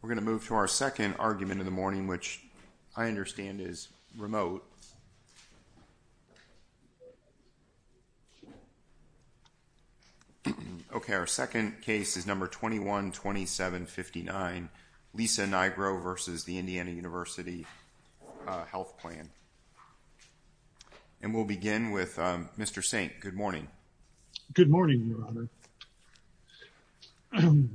We're going to move to our second argument in the morning, which I understand is remote. OK, our second case is number 21-27-59, Lisa Nigro v. Indiana University Health Plan. And we'll begin with Mr. Sink. Good morning. Good morning, Robert.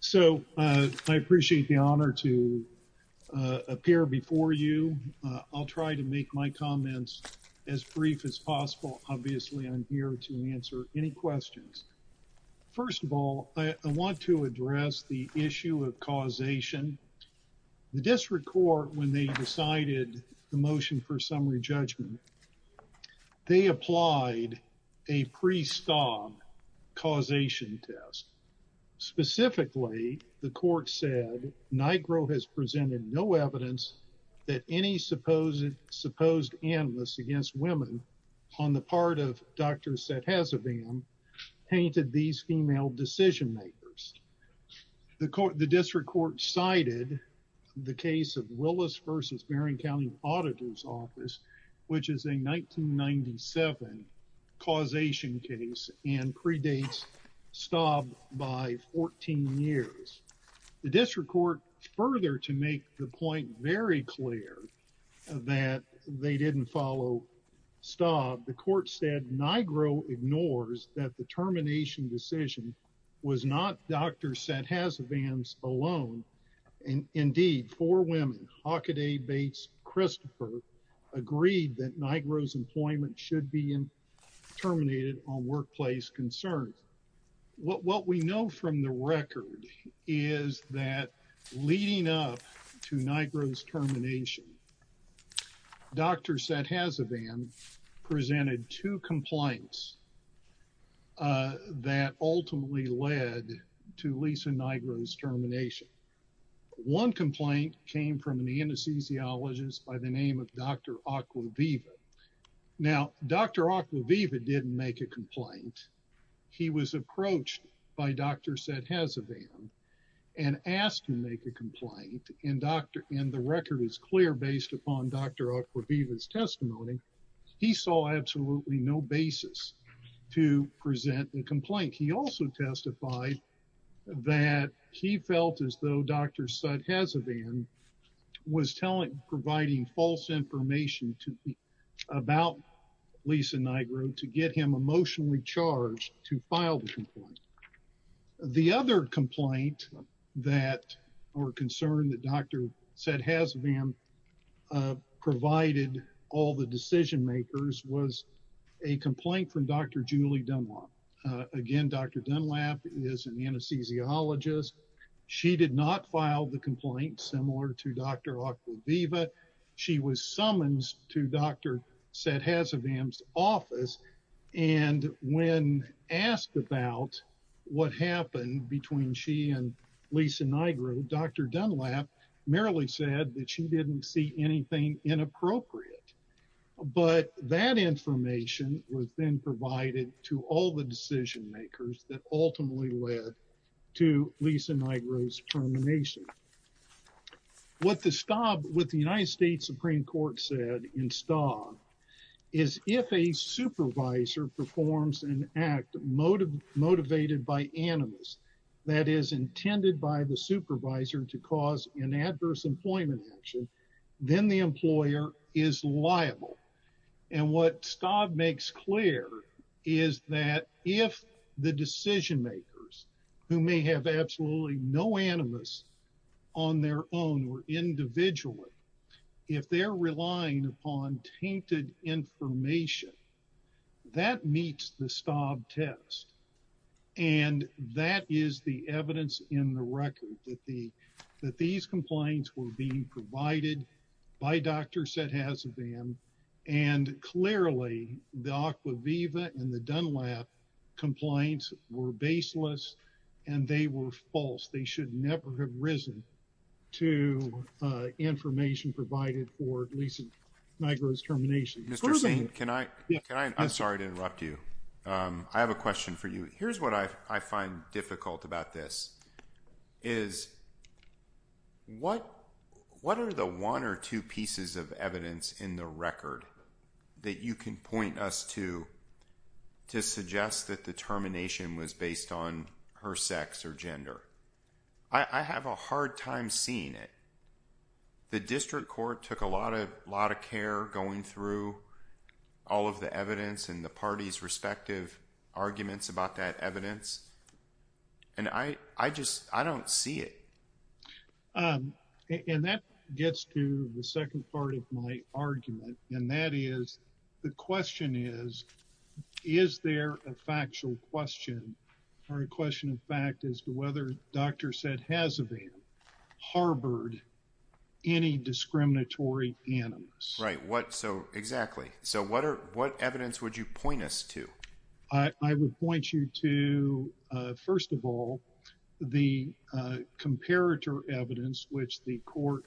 So, I appreciate the honor to appear before you. I'll try to make my comments as brief as possible. Obviously, I'm here to answer any questions. First of all, I want to address the issue of causation. The district court, when they decided the motion for summary judgment, they applied a pre-stop causation test. Specifically, the court said, Nigro has presented no evidence that any supposed analysts against women on the part of Dr. Sethezevam painted these female decision makers. The district court cited the case of Willis v. Barron County Auditor's Office, which is a 1997 causation case and predates Staub by 14 years. The district court, further to make the point very clear that they didn't follow Staub, the court said, Nigro ignores that the termination decision was not Dr. Sethezevam's alone. Indeed, four women, Hockaday, Bates, Christopher, agreed that Nigro's employment should be terminated on workplace concerns. What we know from the record is that leading up to Nigro's termination, Dr. Sethezevam presented two compliance that ultimately led to Lisa Nigro's termination. One complaint came from an anesthesiologist by the name of Dr. Aquaviva. Now, Dr. Aquaviva didn't make a complaint. He was approached by Dr. Sethezevam and asked to make a complaint. And the record is clear based upon Dr. Aquaviva's testimony. He saw absolutely no basis to present the complaint. He also testified that he felt as though Dr. Sethezevam was providing false information about Lisa Nigro to get him emotionally charged to file the complaint. The other complaint or concern that Dr. Sethezevam provided all the decision makers was a complaint from Dr. Julie Dunlop. Again, Dr. Dunlop is an anesthesiologist. She did not file the complaint similar to Dr. Aquaviva. She was summoned to Dr. Sethezevam's office. And when asked about what happened between she and Lisa Nigro, Dr. Dunlop merely said that she didn't see anything inappropriate. But that information was then provided to all the decision makers that ultimately led to Lisa Nigro's termination. What the United States Supreme Court said in Staub is if a supervisor performs an act motivated by animus, that is intended by the supervisor to cause an adverse employment action, then the employer is liable. And what Staub makes clear is that if the decision makers, who may have absolutely no animus on their own or individually, if they're relying upon tainted information, that meets the Staub test. And that is the evidence in the record that these complaints were being provided by Dr. Sethezevam. And clearly the Aquaviva and the Dunlop complaints were baseless. And they were false. They should never have risen to information provided for Lisa Nigro's termination. Mr. Seen, I'm sorry to interrupt you. I have a question for you. Here's what I find difficult about this, is what are the one or two pieces of evidence in the record that you can point us to, to suggest that the termination was based on her sex or gender? I have a hard time seeing it. The district court took a lot of care going through all of the evidence and the parties' respective arguments about that evidence. And I just, I don't see it. And that gets to the second part of my argument. And that is, the question is, is there a factual question or a question of fact as to whether Dr. Sethezevam harbored any discriminatory animus? Right, what, so, exactly. So what evidence would you point us to? I would point you to, first of all, the comparator evidence which the court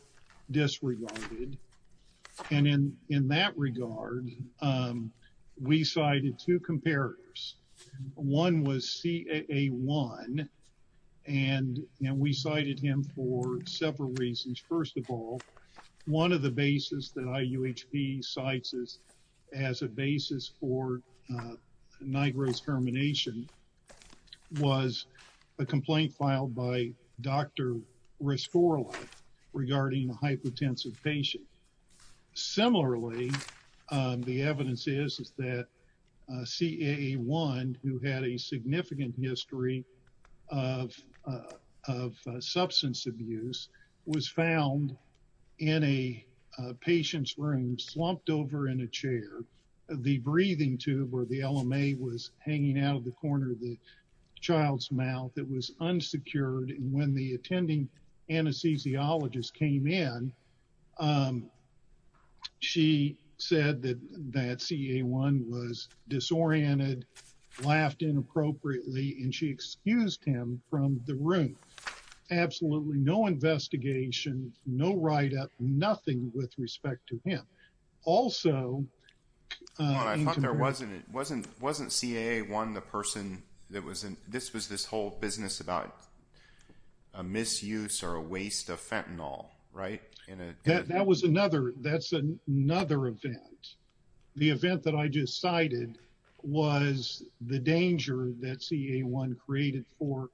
disregarded. And in that regard, we cited two comparators. One was CAA1, and we cited him for several reasons. First of all, one of the basis that IUHP cites as a basis for NIGRO's termination was a complaint filed by Dr. Rescorla regarding a hypotensive patient. Similarly, the evidence is that CAA1, who had a significant history of substance abuse, was found in a patient's room, slumped over in a chair. The breathing tube or the LMA was hanging out of the corner of the child's mouth. It was unsecured, and when the attending anesthesiologist came in, she said that CAA1 was disoriented, laughed inappropriately, and she excused him from the room. Absolutely no investigation, no write-up, nothing with respect to him. Also... Hold on, I thought there wasn't... Wasn't CAA1 the person that was in... This was this whole business about a misuse or a waste of fentanyl, right? That was another... That's another event. The event that I just cited was the danger that CAA1 created for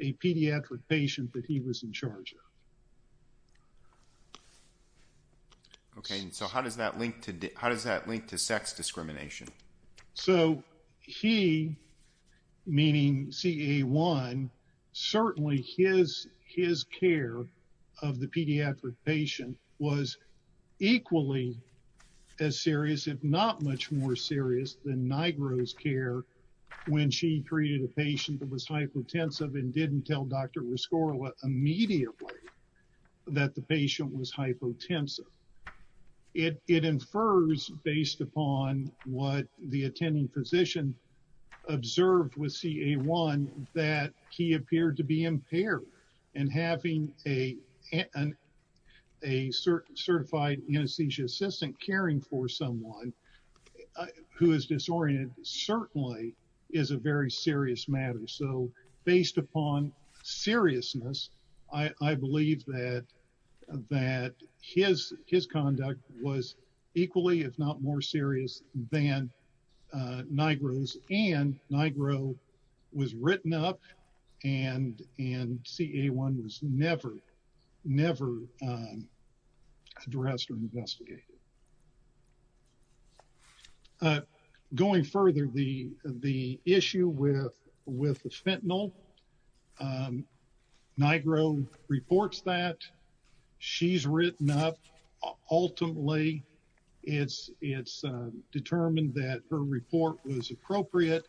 a pediatric patient that he was in charge of. Okay, and so how does that link to... How does that link to sex discrimination? So he, meaning CAA1, certainly his care of the pediatric patient was equally as serious, if not much more serious, than NIGRO's care when she treated a patient that was hypotensive and didn't tell Dr. Rescorla immediately that the patient was hypotensive. It infers, based upon what the attending physician observed with CAA1, that he appeared to be impaired and having a certified anesthesia assistant caring for someone who is disoriented is a very serious matter. So based upon seriousness, I believe that his conduct was equally, if not more serious than NIGRO's and NIGRO was written up for a pediatric patient. Going further, the issue with the fentanyl, NIGRO reports that, she's written up. Ultimately, it's determined that her report was appropriate.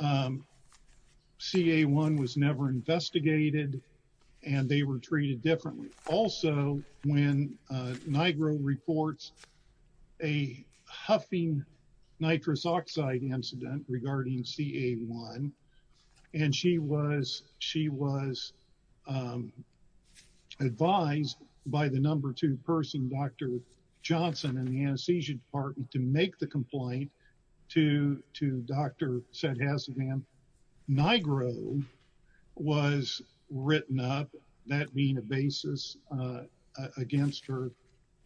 CAA1 was never investigated and they were treated differently. Also, when NIGRO reports a huffing nitrous oxide incident regarding CAA1, and she was advised by the number two person, Dr. Johnson in the anesthesia department to make the complaint to Dr. Sedhasivan, NIGRO was written up, that being a basis against her.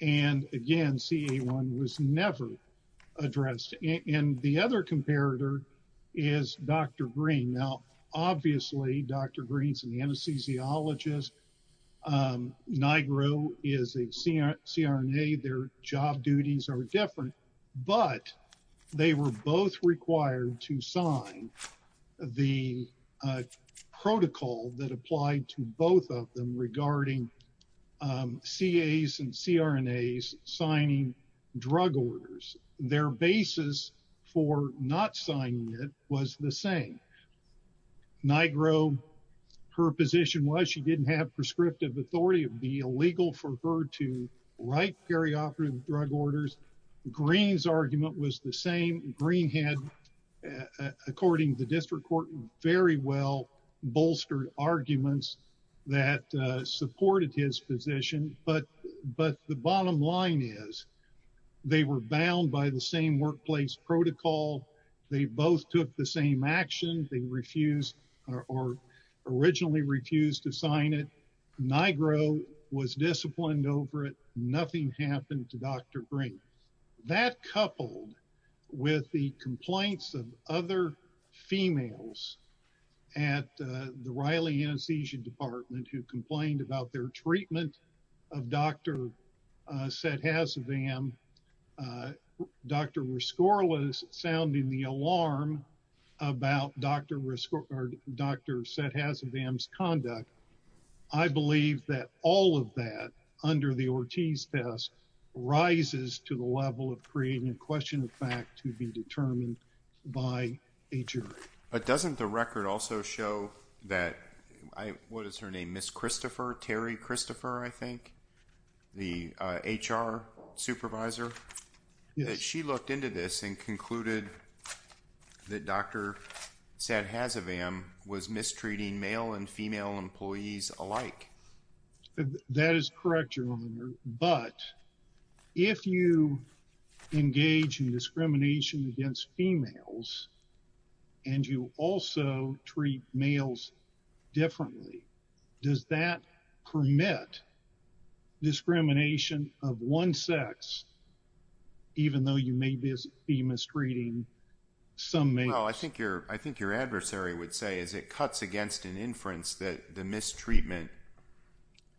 And again, CAA1 was never addressed. And the other comparator is Dr. Green. Now, obviously, Dr. Green's an anesthesiologist, NIGRO is a CRNA, their job duties are different, but they were both required to sign the protocol that applied to both of them regarding CAAs and CRNAs signing drug orders. Their basis for not signing it was the same. NIGRO, her position was, she didn't have prescriptive authority, it would be illegal for her to write perioperative drug orders. Green's argument was the same. Green had, according to the district court, very well bolstered arguments that supported his position, but the bottom line is they were bound by the same workplace protocol, they both took the same action, they refused or originally refused to sign it, NIGRO was disciplined over it, nothing happened to Dr. Green. Now, that coupled with the complaints of other females at the Riley Anesthesia Department who complained about their treatment of Dr. Set-Hazavam, Dr. Rescore was sounding the alarm about Dr. Set-Hazavam's conduct, I believe that all of that, under the Ortiz test, rises to the level of creating a question of fact to be determined by a jury. But doesn't the record also show that, what is her name, Ms. Christopher, Terry Christopher, I think, the HR supervisor, that she looked into this and concluded that Dr. Set-Hazavam was mistreating male and female employees alike. That is correct, Your Honor, but if you engage in discrimination against females and you also treat males differently, does that permit discrimination of one sex even though you may be mistreating some males? Well, I think your adversary would say as it cuts against an inference that the mistreatment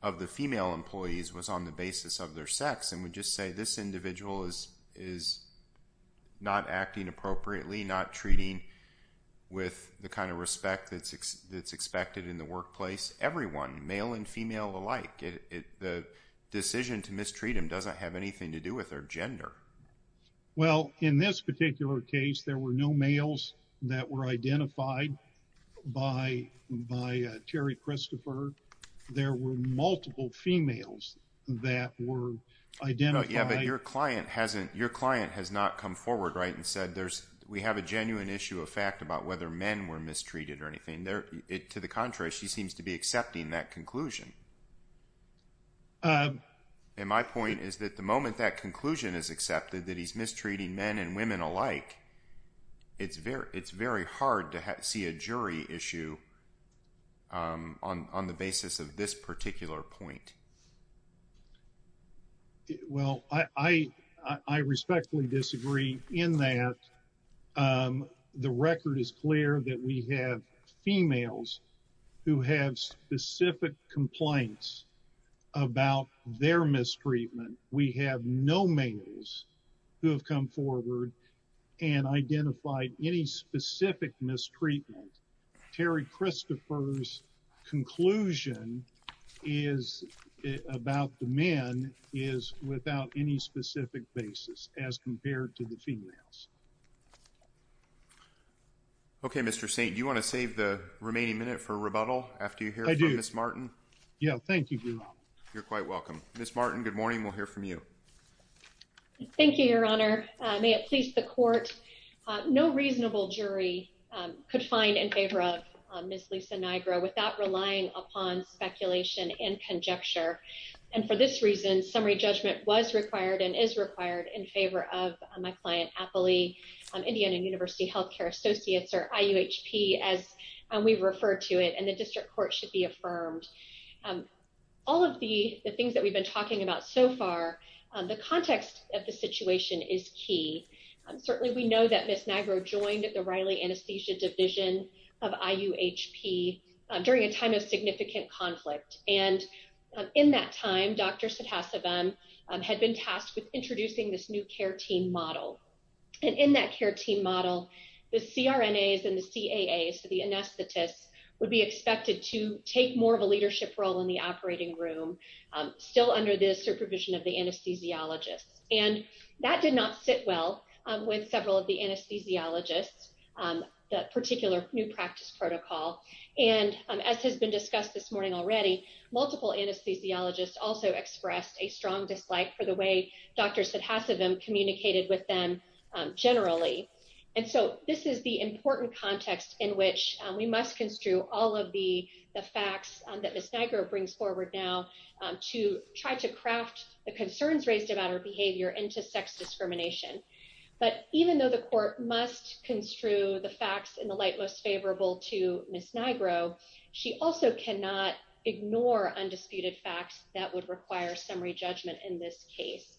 of the female employees was on the basis of their sex and would just say this individual is not acting appropriately, not treating with the kind of respect that's expected in the workplace. Everyone, male and female alike, the decision to mistreat them doesn't have anything to do with their gender. Well, in this particular case, there were no males that were identified by Terry Christopher. There were multiple females that were identified. Yeah, but your client has not come forward and said we have a genuine issue of fact about whether men were mistreated or anything. To the contrary, she seems to be accepting that conclusion. And my point is that the moment that conclusion is accepted that he's mistreating men and women alike, it's very hard to see a jury issue on the basis of this particular point. Well, I respectfully disagree in that. The record is clear that we have females who have specific complaints about their mistreatment. We have no males who have come forward and identified any specific mistreatment. Terry Christopher's conclusion is about the men is without any specific basis as compared to the females. Okay, Mr. Saint, do you want to save the remaining minute for rebuttal after you hear from Ms. Martin? Yeah, thank you, Your Honor. You're quite welcome. Ms. Martin, good morning. Good morning, Your Honor. As we speak to the court, no reasonable jury could find in favor of Ms. Lisa Nigro without relying upon speculation and conjecture. And for this reason, summary judgment was required and is required in favor of my client, Apolli, Indiana University Healthcare Associates or IUHP as we refer to it and the district court should be affirmed. All of the things that we've been talking about so far, the context of the situation is key. Certainly we know that Ms. Nigro joined the Riley Anesthesia Division of IUHP during a time of significant conflict. And in that time, Dr. Sidhasivan had been tasked with introducing this new care team model. And in that care team model, the CRNAs and the CAAs, so the anesthetists, would be expected to take more of a leadership role in the operating room, still under the supervision of the anesthesiologists. And that did not sit well with several of the anesthesiologists, that particular new practice protocol. And as has been discussed this morning already, multiple anesthesiologists also expressed a strong dislike for the way Dr. Sidhasivan communicated with them generally. And so this is the important context in which we must construe all of the facts that Ms. Nigro brings forward now to try to craft the concerns raised about her behavior into sex discrimination. But even though the court must construe the facts in the light most favorable to Ms. Nigro, she also cannot ignore undisputed facts that would require summary judgment in this case.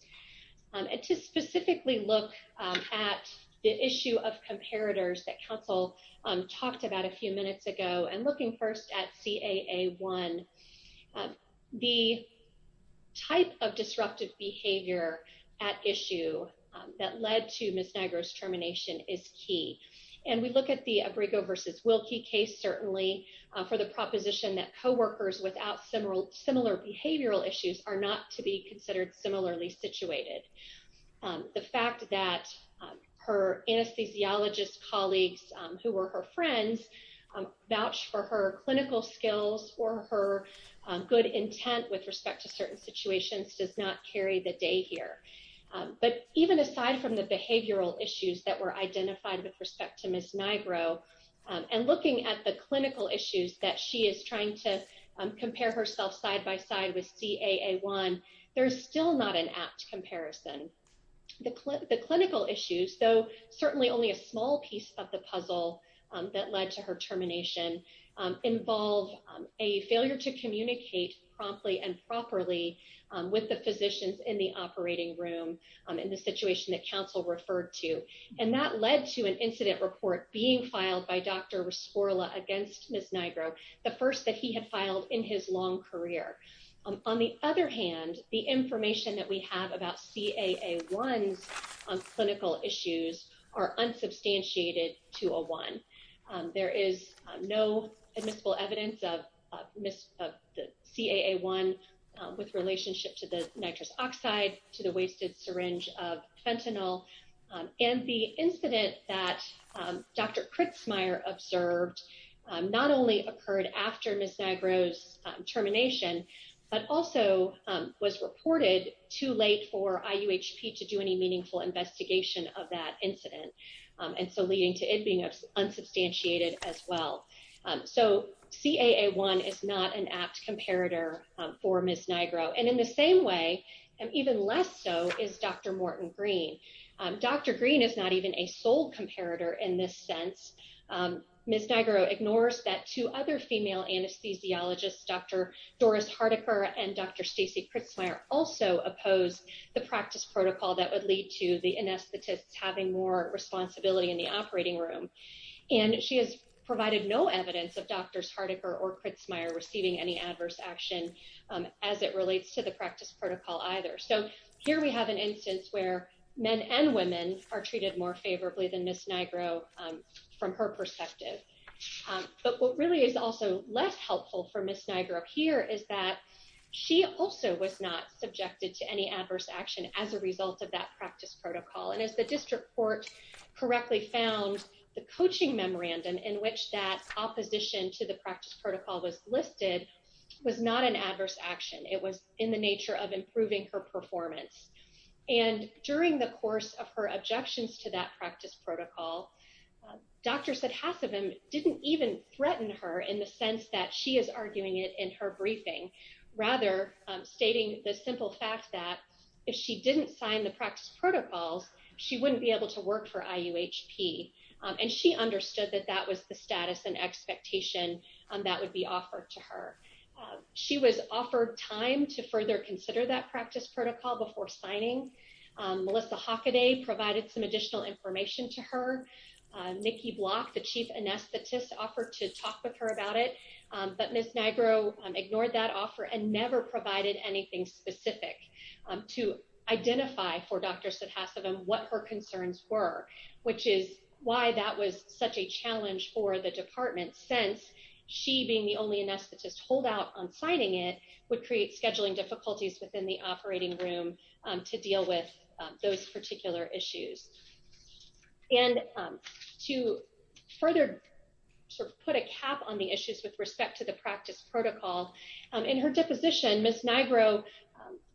And to specifically look at the issue of comparators that counsel talked about a few minutes ago, and looking first at CAA1, the type of disruptive behavior at issue that led to Ms. Nigro's termination is key. And we look at the Abrigo versus Wilkie case, certainly for the proposition that coworkers without similar behavioral issues are not to be considered similarly situated. The fact that her anesthesiologist colleagues, who were her friends, vouch for her clinical skills or her good intent with respect to certain situations does not carry the day here. But even aside from the behavioral issues that were identified with respect to Ms. Nigro, and looking at the clinical issues that she is trying to compare herself side by side with CAA1, there's still not an apt comparison. The clinical issues, though certainly only a small piece of the puzzle that led to her termination, involve a failure to communicate promptly and properly with the physicians in the operating room in the situation that counsel referred to. And that led to an incident report being filed by Dr. Rescorla against Ms. Nigro, the first that he had filed in his long career. On the other hand, the information that we have about CAA1's clinical issues are unsubstantiated to a one. There is no admissible evidence of CAA1 with relationship to the nitrous oxide, to the wasted syringe of fentanyl. And the incident that Dr. Kritzmeier observed not only occurred after Ms. Nigro's termination, but also was reported too late for IUHP to do any meaningful investigation of that incident. And so leading to it being unsubstantiated as well. So CAA1 is not an apt comparator for Ms. Nigro. And in the same way, and even less so, is Dr. Morton Green. Dr. Green is not even a sole comparator in this sense. Ms. Nigro ignores that two other female anesthesiologists, Dr. Doris Hardiker and Dr. Stacey Kritzmeier, also oppose the practice protocol that would lead to the anesthetists having more responsibility in the operating room. And she has provided no evidence of Drs. Hardiker or Kritzmeier receiving any adverse action as it relates to the practice protocol either. So here we have an instance where men and women are treated more favorably than Ms. Nigro from her perspective. But what really is also less helpful for Ms. Nigro here is that she also was not subjected to any adverse action as a result of that practice protocol. And as the district court correctly found, the coaching memorandum in which that opposition to the practice protocol was listed was not an adverse action. It was in the nature of improving her performance. And during the course of her objections to that practice protocol, Dr. Sedhasivan didn't even threaten her in the sense that she is arguing it in her briefing, rather stating the simple fact that if she didn't sign the practice protocols, she wouldn't be able to work for IUHP. And she understood that that was the status and expectation that would be offered to her. She was offered time to further consider that practice protocol before signing. Melissa Hockaday provided some additional information to her and Nikki Block, the chief anesthetist, offered to talk with her about it. But Ms. Nigro ignored that offer and never provided anything specific to identify for Dr. Sedhasivan what her concerns were, which is why that was such a challenge for the department since she being the only anesthetist to hold out on signing it would create scheduling difficulties within the operating room to deal with those particular issues. And to further sort of put a cap on the issues with respect to the practice protocol, in her deposition, Ms. Nigro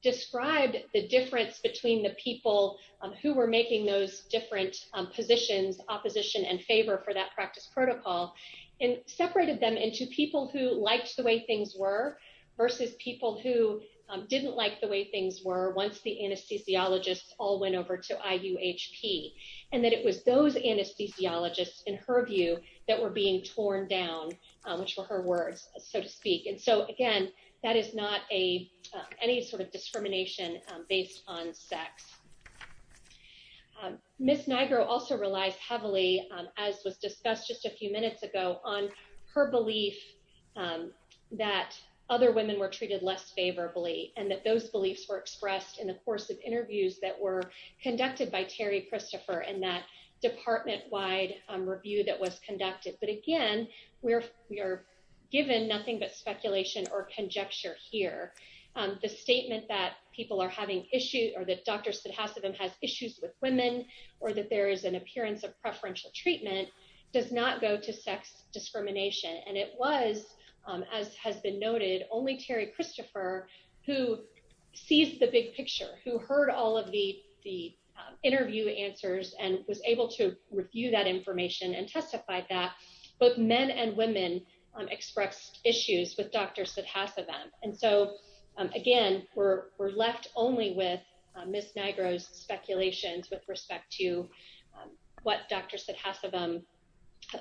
described the difference between the people who were making those different positions, opposition and favor for that practice protocol and separated them into people who liked the way things were versus people who didn't like the way things were once the anesthesiologists all went over to IUHP and that it was those anesthesiologists, in her view, that were being torn down, which were her words, so to speak. And so, again, that is not any sort of discrimination based on sex. Ms. Nigro also relies heavily, as was discussed just a few minutes ago, on her belief that other women were treated less favorably and that those beliefs were expressed in the course of interviews that were conducted by Terry Christopher and that department-wide review that was conducted. But, again, we are given nothing but speculation or conjecture here. The statement that people are having issues or that Dr. Sedhasivan has issues with women or that there is an appearance of preferential treatment does not go to sex discrimination. And it was, as has been noted, only Terry Christopher who sees the big picture, who heard all of the interview answers and was able to review that information and testified that both men and women expressed issues with Dr. Sedhasivan. And so, again, we're left only with Ms. Nigro's speculations with respect to what Dr. Sedhasivan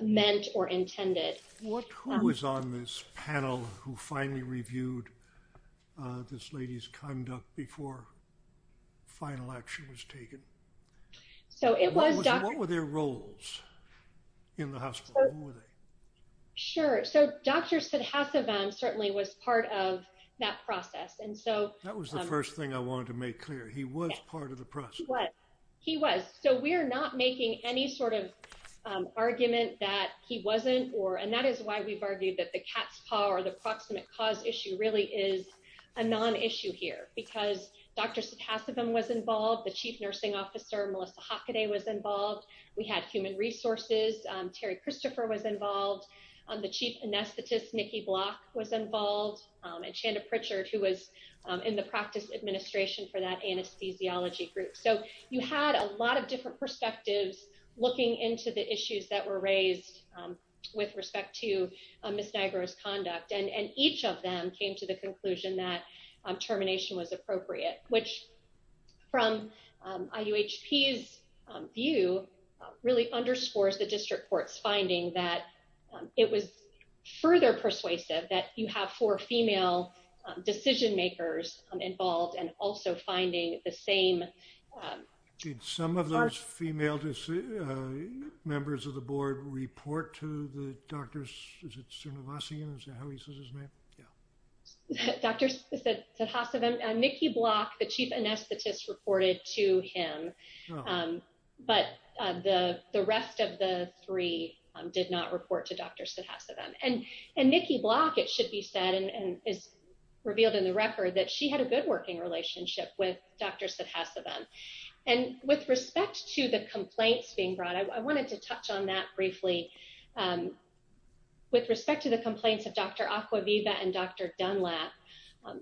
meant or intended. Who was on this panel who finally reviewed this lady's conduct before final action was taken? What were their roles in the hospital? Who were they? Sure. So Dr. Sedhasivan certainly was part of that process. That was the first thing I wanted to make clear. He was part of the process. He was. So we're not making any sort of argument that he wasn't or, and that is why we've argued that the cat's paw or the proximate cause issue really is a non-issue here. Because Dr. Sedhasivan was involved. The chief nursing officer, Melissa Hockaday, was involved. We had human resources. Terry Christopher was involved. The chief anesthetist, Nikki Block, was involved. And Chanda Pritchard, who was in the practice administration for that anesthesiology group. So you had a lot of different perspectives looking into the issues that were raised with respect to Ms. Niagara's conduct. And each of them came to the conclusion that termination was appropriate, which from IUHP's view, really underscores the district court's finding that it was further persuasive that you have four female decision makers involved and also finding the same. Did some of those female members of the board report to the doctors? Is it Srinivasan, is that how he says his name? Yeah. Dr. Sedhasivan, Nikki Block, the chief anesthetist reported to him. But the rest of the three did not report to Dr. Sedhasivan. And Nikki Block, it should be said, and is revealed in the record, that she had a good working relationship with Dr. Sedhasivan. And with respect to the complaints being brought, I wanted to touch on that briefly. With respect to the complaints of Dr. Acquaviva and Dr. Dunlap,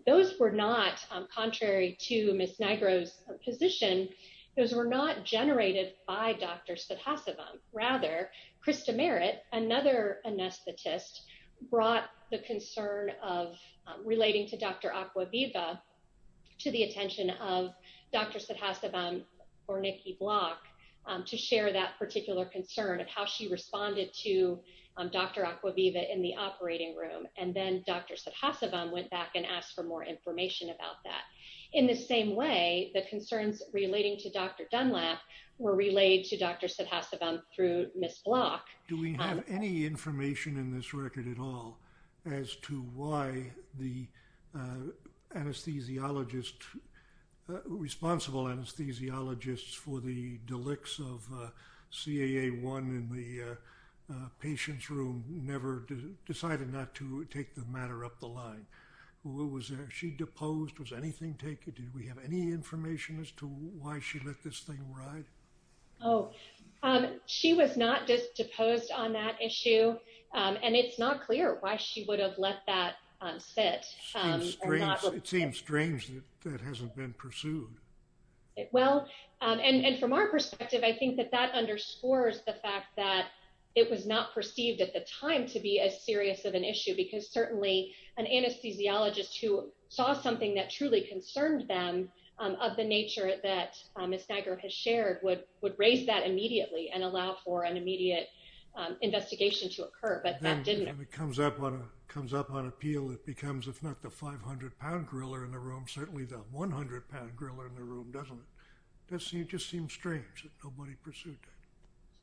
those were not, contrary to Ms. Niagara's position, those were not generated by Dr. Sedhasivan. Rather, Krista Merritt, another anesthetist, brought the concern of relating to Dr. Acquaviva to the attention of Dr. Sedhasivan or Nikki Block to share that particular concern of how she responded to Dr. Acquaviva in the operating room. And then Dr. Sedhasivan went back and asked for more information about that. In the same way, the concerns relating to Dr. Dunlap were relayed to Dr. Sedhasivan through Ms. Block. Do we have any information in this record at all as to why the anesthesiologist, responsible anesthesiologists, for the delicts of CAA1 in the patient's room never decided not to take the matter up the line? Was she deposed? Was anything taken? Do we have any information as to why she let this thing ride? Oh, she was not just deposed on that issue. And it's not clear why she would have let that sit. It seems strange that that hasn't been pursued. Well, and from our perspective, I think that that underscores the fact that it was not perceived at the time to be as serious of an issue because certainly an anesthesiologist who saw something that truly concerned them of the nature that Ms. Niagara has shared would raise that immediately and allow for an immediate investigation to unfold. But that didn't occur. And it comes up on appeal. It becomes, if not the 500-pound gorilla in the room, certainly the 100-pound gorilla in the room, doesn't it? It just seems strange that nobody pursued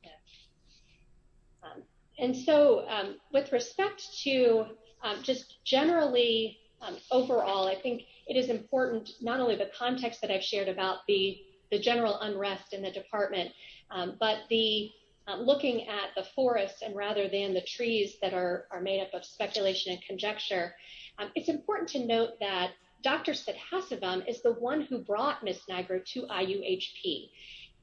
that. Yeah. And so with respect to just generally overall, I think it is important, not only the context that I've shared about the general unrest in the department, but the looking at the forest and the trees that are made up of speculation and conjecture, it's important to note that Dr. Sidhasavam is the one who brought Ms. Niagara to IUHP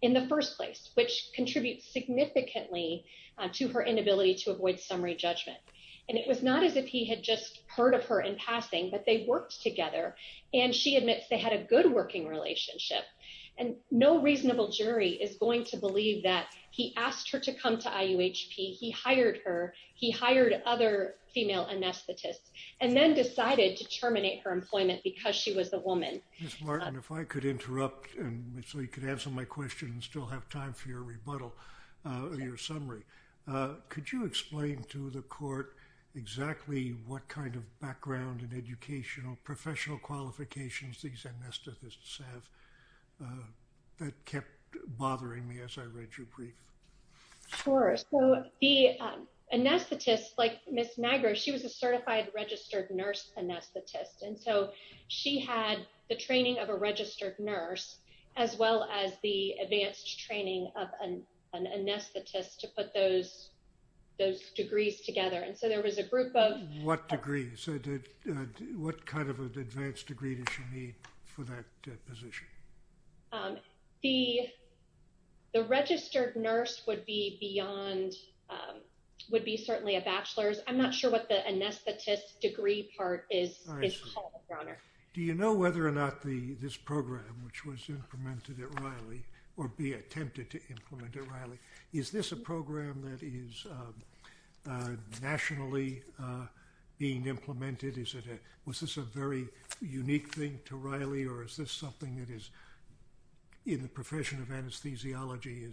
in the first place, which contributes significantly to her inability to avoid summary judgment. And it was not as if he had just heard of her in passing, but they worked together, and she admits they had a good working relationship. And no reasonable jury is going to believe that he asked her to come to IUHP, he hired her, he hired other female anesthetists, and then decided to terminate her employment because she was a woman. Ms. Martin, if I could interrupt so you could answer my question and still have time for your rebuttal, your summary. Could you explain to the court exactly what kind of background and educational professional qualifications these anesthetists have? That kept bothering me as I read your brief. Sure. So the anesthetist, like Ms. Niagara, she was a certified registered nurse anesthetist. And so she had the training of a registered nurse, as well as the advanced training of an anesthetist to put those degrees together. And so there was a group of- What degree? What kind of an advanced degree does she need for that position? The registered nurse would be beyond, would be certainly a bachelor's. I'm not sure what the anesthetist degree part is called, Your Honor. Do you know whether or not this program, which was implemented at Riley, or be attempted to implement at Riley, is this a program that is nationally being implemented? Was this a very unique thing to Riley, or is this something that is, in the profession of anesthesiology,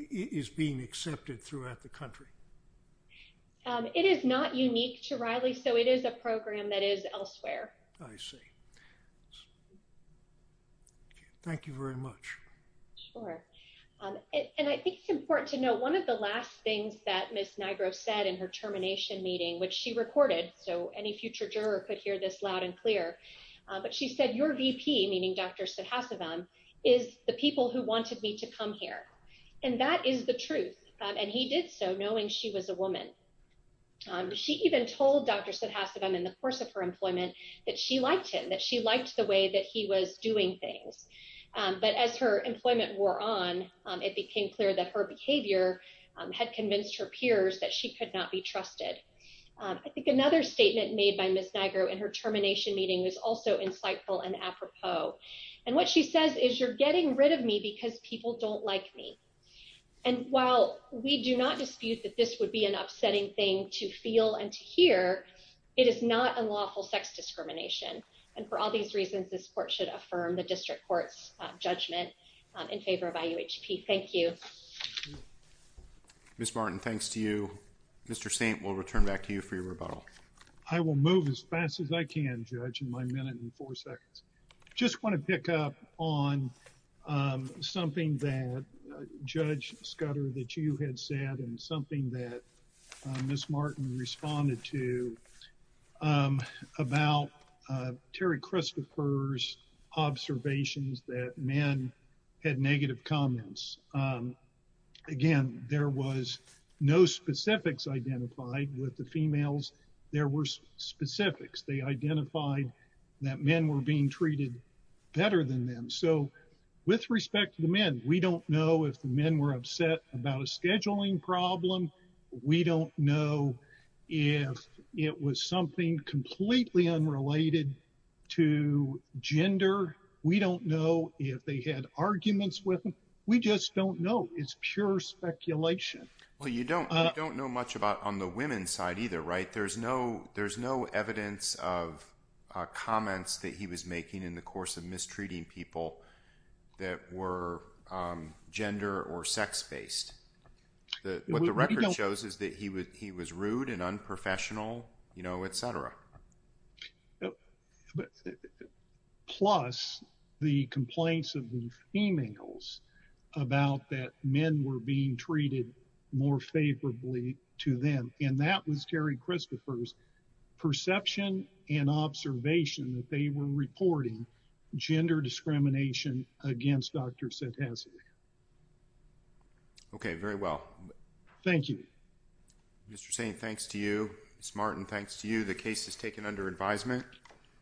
is being accepted throughout the country? It is not unique to Riley, so it is a program that is elsewhere. I see. Thank you very much. Sure. And I think it's important to note one of the last things that Ms. Niagara said so any future juror could hear this loud and clear, but she said, your VP, meaning Dr. Sudhasivan, is the people who wanted me to come here. And that is the truth. And he did so knowing she was a woman. She even told Dr. Sudhasivan in the course of her employment that she liked him, that she liked the way that he was doing things. But as her employment wore on, it became clear that her behavior had convinced her peers that she could not be trusted. I think another statement made by Ms. Niagara in her termination meeting was also insightful and apropos. And what she says is, you're getting rid of me because people don't like me. And while we do not dispute that this would be an upsetting thing to feel and to hear, it is not unlawful sex discrimination. And for all these reasons, this court should affirm the district court's judgment in favor of IUHP. Thank you. Ms. Martin, thanks to you. Mr. Saint, we'll return back to you for your rebuttal. I will move as fast as I can, Judge, in my minute and four seconds. Just want to pick up on something that Judge Scudder, that you had said and something that Ms. Martin responded to about Terry Christopher's observations that men had negative comments. Again, there was no specific specifics identified with the females. There were specifics. They identified that men were being treated better than them. So with respect to the men, we don't know if the men were upset about a scheduling problem. We don't know if it was something completely unrelated to gender. We don't know if they had arguments with them. We just don't know. It's pure speculation. And I think we can't do much on the women's side either, right? There's no evidence of comments that he was making in the course of mistreating people that were gender or sex-based. What the record shows is that he was rude and unprofessional, you know, et cetera. Plus, the complaints of the females about that men were being treated more favorably to them. And that was Terry Christopher's perception and observation that they were reporting gender discrimination against Dr. Santasi. Okay, very well. Thank you. Mr. Saint, thanks to you. Ms. Martin, thanks to you. The case is taken under advisement.